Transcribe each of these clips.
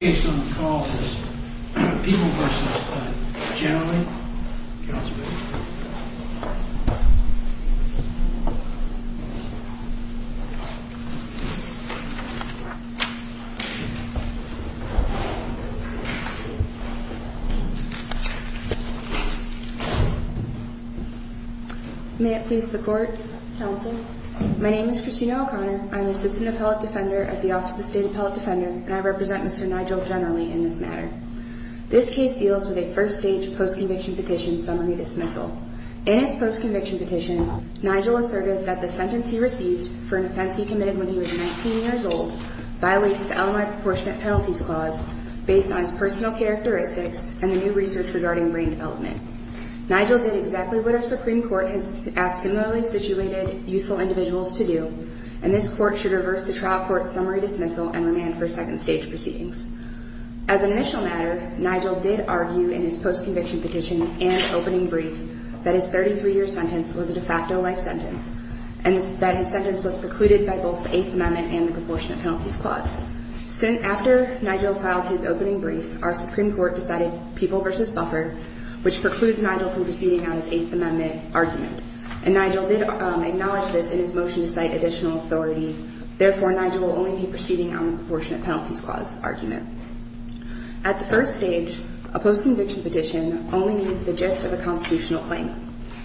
May it please the Court, Counsel. My name is Christina O'Connor. I'm the Assistant Appellate Defender at the Office of the State Appellate Defender, and I represent Mr. Nigel O'Connor. This case deals with a first-stage post-conviction petition summary dismissal. In his post-conviction petition, Nigel asserted that the sentence he received for an offense he committed when he was 19 years old violates the LMI Proportionate Penalties Clause based on his personal characteristics and the new research regarding brain development. Nigel did exactly what our Supreme Court has asked similarly situated youthful individuals to do, and this Court should reverse the trial court's summary dismissal and remand for second-stage proceedings. As an initial matter, Nigel did argue in his post-conviction petition and opening brief that his 33-year sentence was a de facto life sentence, and that his sentence was precluded by both the Eighth Amendment and the Proportionate Penalties Clause. After Nigel filed his opening brief, our Supreme Court decided People v. Buffard, which precludes Nigel from proceeding on his Eighth Amendment argument. And Nigel did acknowledge this in his motion to cite additional authority. Therefore, Nigel will only be proceeding on the Proportionate Penalties Clause argument. At the first stage, a post-conviction petition only needs the gist of a constitutional claim.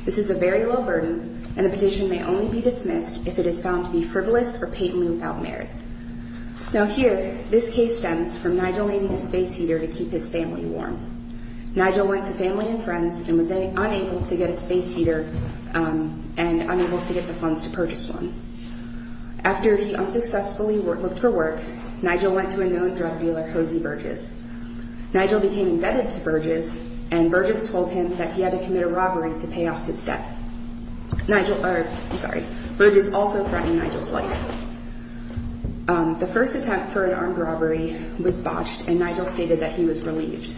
This is a very low burden, and the petition may only be dismissed if it is found to be frivolous or patently without merit. Now here, this case stems from Nigel needing a space heater to keep his family warm. Nigel went to family and friends and was unable to get a space heater and unable to get the funds to purchase one. After he unsuccessfully looked for work, Nigel went to a known drug dealer, Hosey Burgess. Nigel became indebted to Burgess, and Burgess told him that he had to commit a robbery to pay off his debt. Burgess also threatened Nigel's life. The first attempt for an armed robbery was botched, and Nigel stated that he was relieved.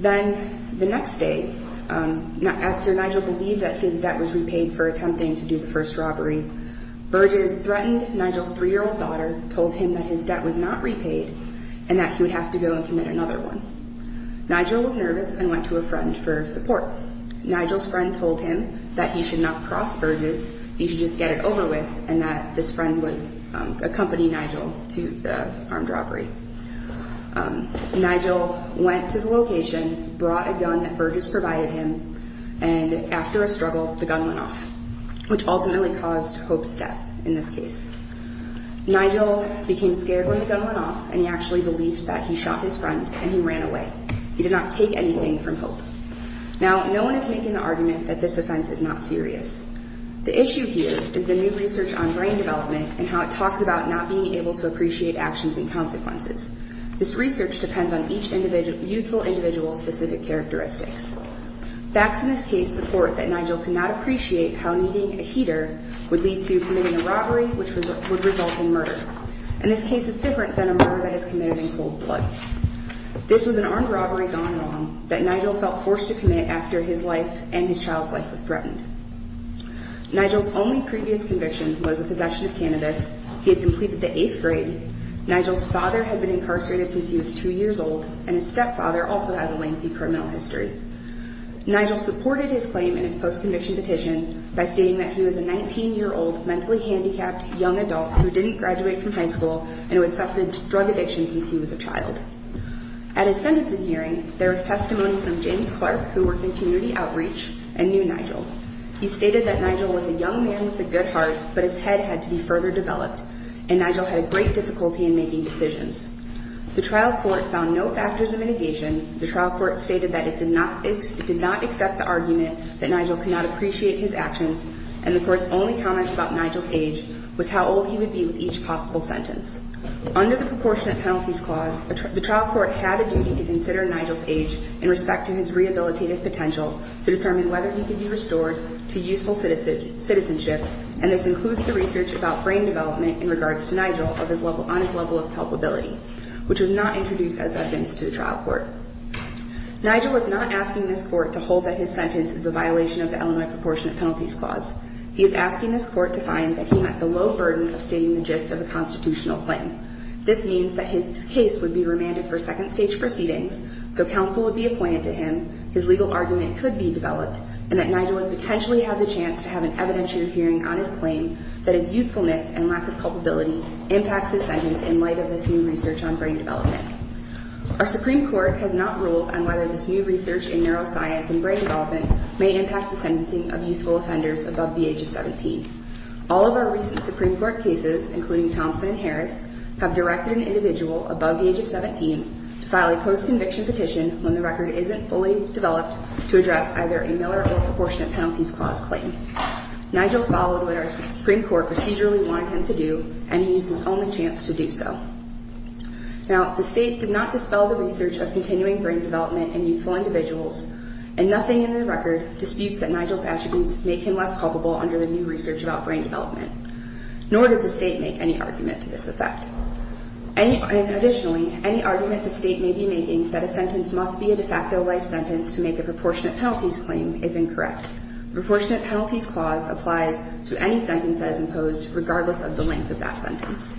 Then, the next day, after Nigel believed that his debt was repaid for attempting to do the first robbery, he went to a drug dealer. Burgess threatened Nigel's three-year-old daughter, told him that his debt was not repaid, and that he would have to go and commit another one. Nigel was nervous and went to a friend for support. Nigel's friend told him that he should not cross Burgess, he should just get it over with, and that this friend would accompany Nigel to the armed robbery. Nigel went to the location, brought a gun that Burgess provided him, and after a struggle, the gun went off, which ultimately caused Hope's death. In this case, Nigel became scared when the gun went off, and he actually believed that he shot his friend, and he ran away. He did not take anything from Hope. Now, no one is making the argument that this offense is not serious. The issue here is the new research on brain development and how it talks about not being able to appreciate actions and consequences. This research depends on each youthful individual's specific characteristics. Facts in this case support that Nigel could not appreciate how needing a heater would lead to heart failure. In this case, Nigel committed a robbery, which would result in murder. And this case is different than a murder that is committed in cold blood. This was an armed robbery gone wrong that Nigel felt forced to commit after his life and his child's life was threatened. Nigel's only previous conviction was the possession of cannabis. He had completed the eighth grade. Nigel's father had been incarcerated since he was two years old, and his stepfather also has a lengthy criminal history. Nigel supported his claim in his post-conviction petition by stating that he was a 19-year-old mentally handicapped young adult who didn't graduate from high school and who had suffered drug addiction since he was a child. At his sentencing hearing, there was testimony from James Clark, who worked in community outreach, and knew Nigel. He stated that Nigel was a young man with a good heart, but his head had to be further developed, and Nigel had great difficulty in making decisions. The trial court found no factors of mitigation. The trial court stated that it did not accept the argument that Nigel could not appreciate his actions, and the court's only comment about Nigel's age was how old he would be with each possible sentence. Under the proportionate penalties clause, the trial court had a duty to consider Nigel's age in respect to his rehabilitative potential to determine whether he could be restored to useful citizenship, and this includes the research about brain development in regards to Nigel on his level of culpability. Nigel was not asking this court to hold that his sentence is a violation of the Illinois proportionate penalties clause. He is asking this court to find that he met the low burden of stating the gist of a constitutional claim. This means that his case would be remanded for second stage proceedings, so counsel would be appointed to him, his legal argument could be developed, and that Nigel would potentially have the chance to have an evidentiary hearing on his claim that his youthfulness and lack of culpability impacts his sentence in light of this new research. Our Supreme Court has not ruled on whether this new research in neuroscience and brain development may impact the sentencing of youthful offenders above the age of 17. All of our recent Supreme Court cases, including Thompson and Harris, have directed an individual above the age of 17 to file a post-conviction petition when the record isn't fully developed to address either a Miller or proportionate penalties clause claim. Nigel followed what our Supreme Court procedurally wanted him to do, and he used his only chance to do so. The state did not dispel the research of continuing brain development in youthful individuals, and nothing in the record disputes that Nigel's attributes make him less culpable under the new research about brain development, nor did the state make any argument to this effect. Additionally, any argument the state may be making that a sentence must be a de facto life sentence to make a proportionate penalties claim is incorrect. The proportionate penalties clause applies to any sentence that is imposed, regardless of the length of that sentence.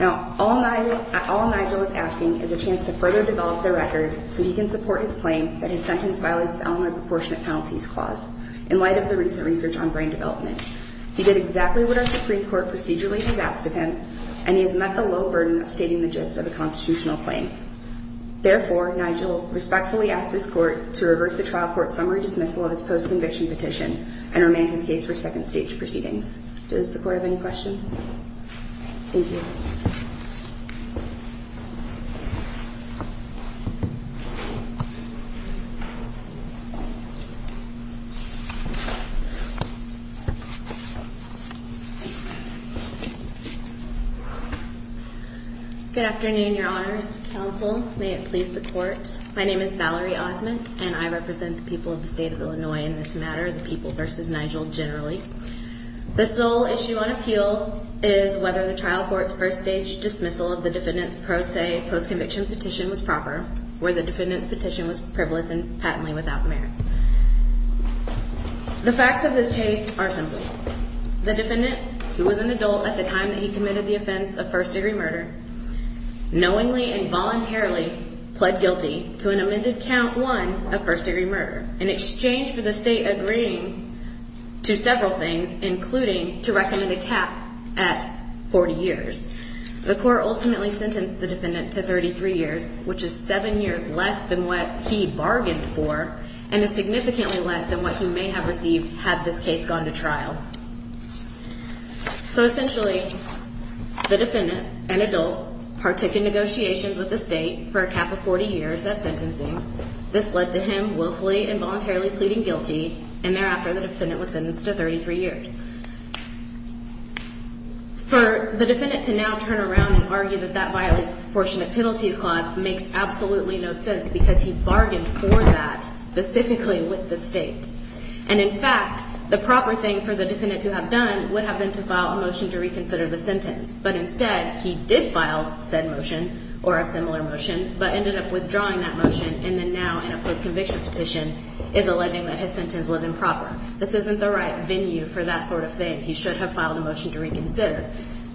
All Nigel is asking is a chance to further develop the record so he can support his claim that his sentence violates the element of the proportionate penalties clause, in light of the recent research on brain development. He did exactly what our Supreme Court procedurally has asked of him, and he has met the low burden of stating the gist of a constitutional claim. Therefore, Nigel respectfully asks this Court to reverse the trial court summary dismissal of his post-conviction petition and remand his case for second stage proceedings. Does the Court have any questions? Good afternoon, Your Honors. Counsel, may it please the Court. My name is Valerie Osment, and I represent the people of the state of Illinois in this matter, the people versus Nigel generally. The sole issue on appeal is whether the trial court's first stage dismissal of the defendant's pro se post-conviction petition was proper, or the defendant's petition was privileged and patently without merit. The facts of this case are simple. The defendant, who was an adult at the time that he committed the offense of first degree murder, knowingly and voluntarily pled guilty to an amended count one of first degree murder, in exchange for the state agreeing to several things, including to recommend a cap at 40 years. The Court ultimately sentenced the defendant to 33 years, which is seven years less than what he bargained for, and is significantly less than what he may have received had this case gone to trial. So essentially, the defendant, an adult, partook in negotiations with the state for a cap of 40 years as sentencing. This led to him willfully and voluntarily pleading guilty, and thereafter the defendant was sentenced to 33 years. For the defendant to now turn around and argue that that violates the proportionate penalties clause makes absolutely no sense, because he bargained for that specifically with the state. And in fact, the proper thing for the defendant to have done would have been to file a motion to reconsider the sentence. But instead, he did file said motion, or a similar motion, but ended up withdrawing that motion, and then now in a post-conviction petition is alleging that his sentence was improper. This isn't the right venue for that sort of thing. He should have filed a motion to reconsider.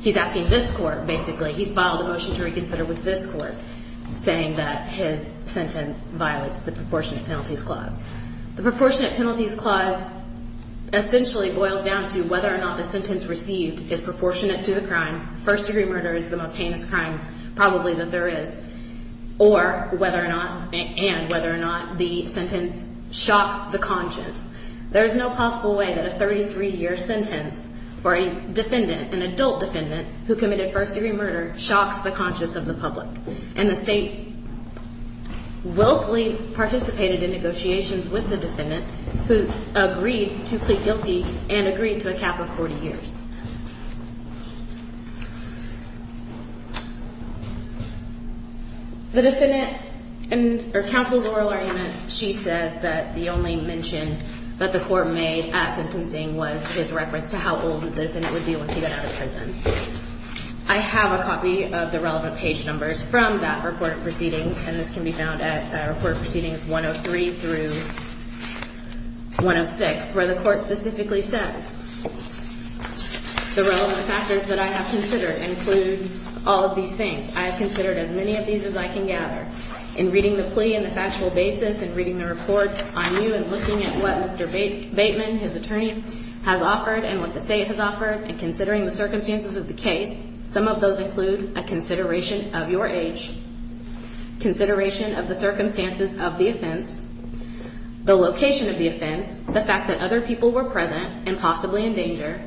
He's asking this Court, basically, he's filed a motion to reconsider with this Court, saying that his sentence violates the proportionate penalties clause. The proportionate penalties clause essentially boils down to whether or not the sentence received is proportionate to the crime, first-degree murder is the most heinous crime probably that there is, or whether or not, and whether or not the sentence shocks the conscience. There is no possible way that a 33-year sentence for a defendant, an adult defendant, who committed first-degree murder shocks the conscience of the public. And the state willfully participated in negotiations with the defendant, who agreed to plead guilty and agreed to a cap of 40 years. The defendant, in her counsel's oral argument, she says that the only mention of the sentence was that it was improper. That the court made at sentencing was his reference to how old the defendant would be once he got out of prison. I have a copy of the relevant page numbers from that report of proceedings, and this can be found at Report Proceedings 103 through 106, where the Court specifically says, the relevant factors that I have considered include all of these things. I have considered as many of these as I can gather. What Mr. Bateman, his attorney, has offered and what the state has offered, and considering the circumstances of the case, some of those include a consideration of your age, consideration of the circumstances of the offense, the location of the offense, the fact that other people were present and possibly in danger,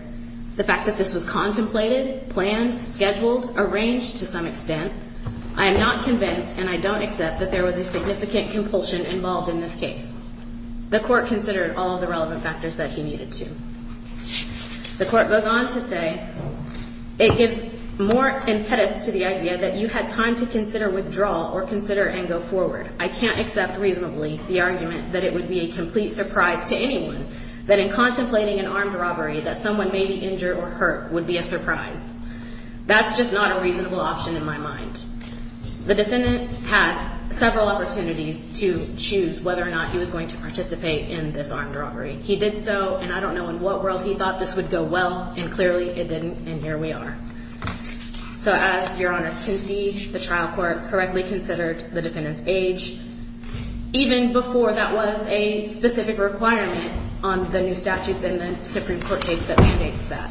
the fact that this was contemplated, planned, scheduled, arranged to some extent. I am not convinced, and I don't accept, that there was a significant compulsion involved in this case. The Court considered all of the relevant factors that he needed to. The Court goes on to say, it gives more impetus to the idea that you had time to consider withdrawal or consider and go forward. I can't accept reasonably the argument that it would be a complete surprise to anyone that in contemplating an armed robbery that someone may be injured or hurt would be a surprise. That's just not a reasonable option in my mind. The defendant had several opportunities to choose whether or not he was going to participate in this armed robbery. He did so, and I don't know in what world he thought this would go well, and clearly it didn't, and here we are. So as Your Honor's concede, the trial court correctly considered the defendant's age, even before that was a specific requirement on the new statutes in the Supreme Court case that mandates that.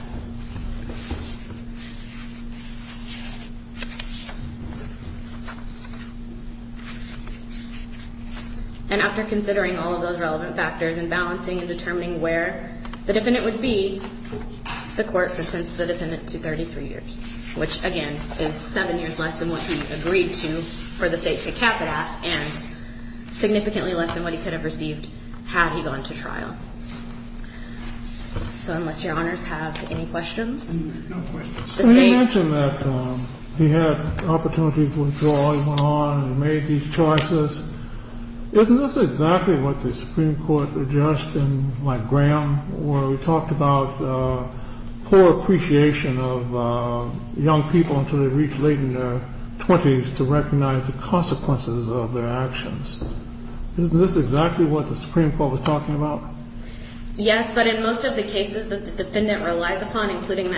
And after considering all of those relevant factors and balancing and determining where the defendant would be, the Court sentenced the defendant to 33 years, which, again, is seven years less than what he agreed to for the state to cap it at, and significantly less than what he could have received had he gone to trial. So unless Your Honors have any questions. Let me mention that he had opportunities to withdraw, he went on and made these choices. Isn't this exactly what the Supreme Court addressed in Mike Graham, where we talked about poor appreciation of young people until they reached late in their 20s to recognize the consequences of their actions? Isn't this exactly what the Supreme Court was talking about? And in this particular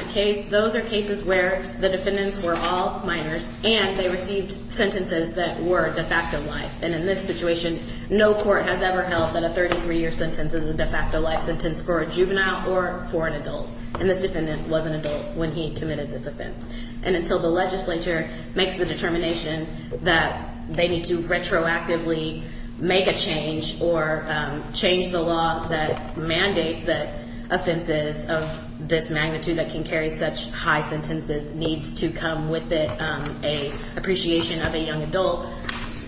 case, those are cases where the defendants were all minors, and they received sentences that were de facto life. And in this situation, no court has ever held that a 33-year sentence is a de facto life sentence for a juvenile or for an adult. And this defendant was an adult when he committed this offense. And until the legislature makes the determination that they need to retroactively make a change or change the law that mandates that offenses of this magnitude that can carry a life sentence, that can carry such high sentences, needs to come with it an appreciation of a young adult,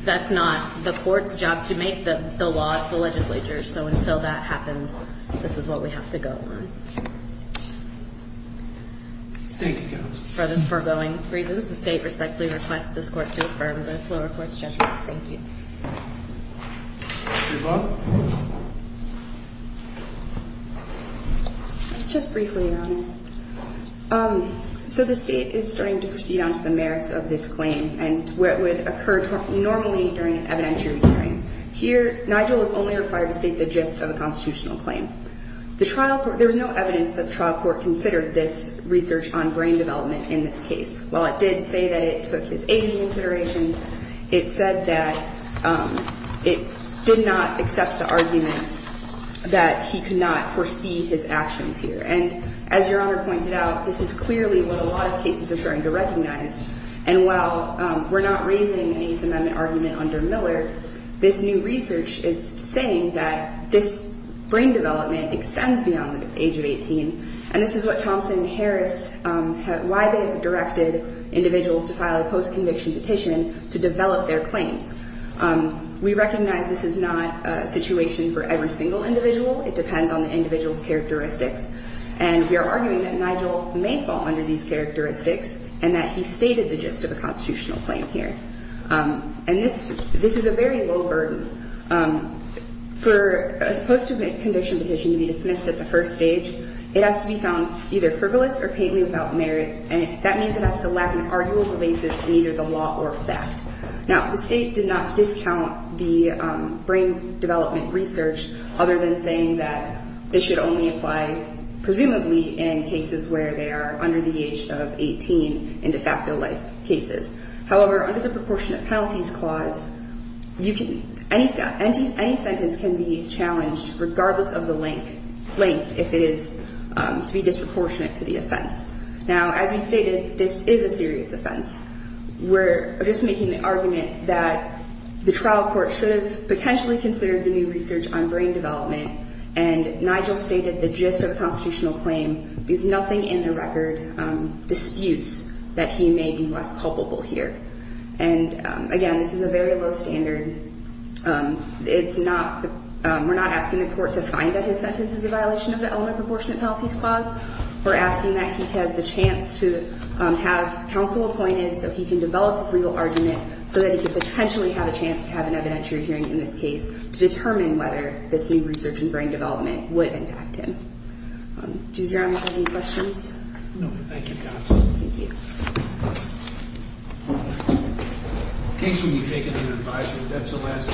that's not the court's job to make the law, it's the legislature's. So until that happens, this is what we have to go on. For the foregoing reasons, the state respectfully requests this court to affirm the floor reports judgment. Thank you. Mr. Vaughn? Just briefly, Your Honor. So the state is starting to proceed on to the merits of this claim and where it would occur normally during an evidentiary hearing. Here, Nigel is only required to state the gist of the constitutional claim. There was no evidence that the trial court considered this research on brain development in this case. While it did say that it took his age into consideration, it said that it did not accept the argument that he could not foresee his actions here. And as Your Honor pointed out, this is clearly what a lot of cases are starting to recognize. And while we're not raising an Eighth Amendment argument under Miller, this new research is saying that this brain development extends beyond the age of 18. And this is what Thompson and Harris, why they've directed individuals to file a post-conviction petition to develop their claims. We recognize this is not a situation for every single individual. It depends on the individual's characteristics. And we are arguing that Nigel may fall under these characteristics and that he stated the gist of a constitutional claim here. And this is a very low burden. For a post-conviction petition to be dismissed at the first stage, it has to be found either frivolous or painfully without merit. And that means it has to lack an arguable basis in either the law or fact. Now, the State did not discount the brain development research, other than saying that it should only apply presumably in cases where they are under the age of 18 in de facto life cases. However, under the proportionate penalties clause, any sentence can be challenged, regardless of the length, if it is to be disproportionate to the offense. Now, as we stated, this is a serious offense. We're just making the argument that the trial court should have potentially considered the new research on brain development. And Nigel stated the gist of a constitutional claim. There's nothing in the record disputes that he may be less culpable here. And, again, this is a very low standard. It's not the we're not asking the court to find that his sentence is a violation of the element proportionate penalties clause. We're asking that he has the chance to have counsel appointed so he can develop his legal argument so that he could potentially have a chance to have an evidentiary hearing in this case to determine whether this new research in brain development would impact him. Does your office have any questions? No, thank you.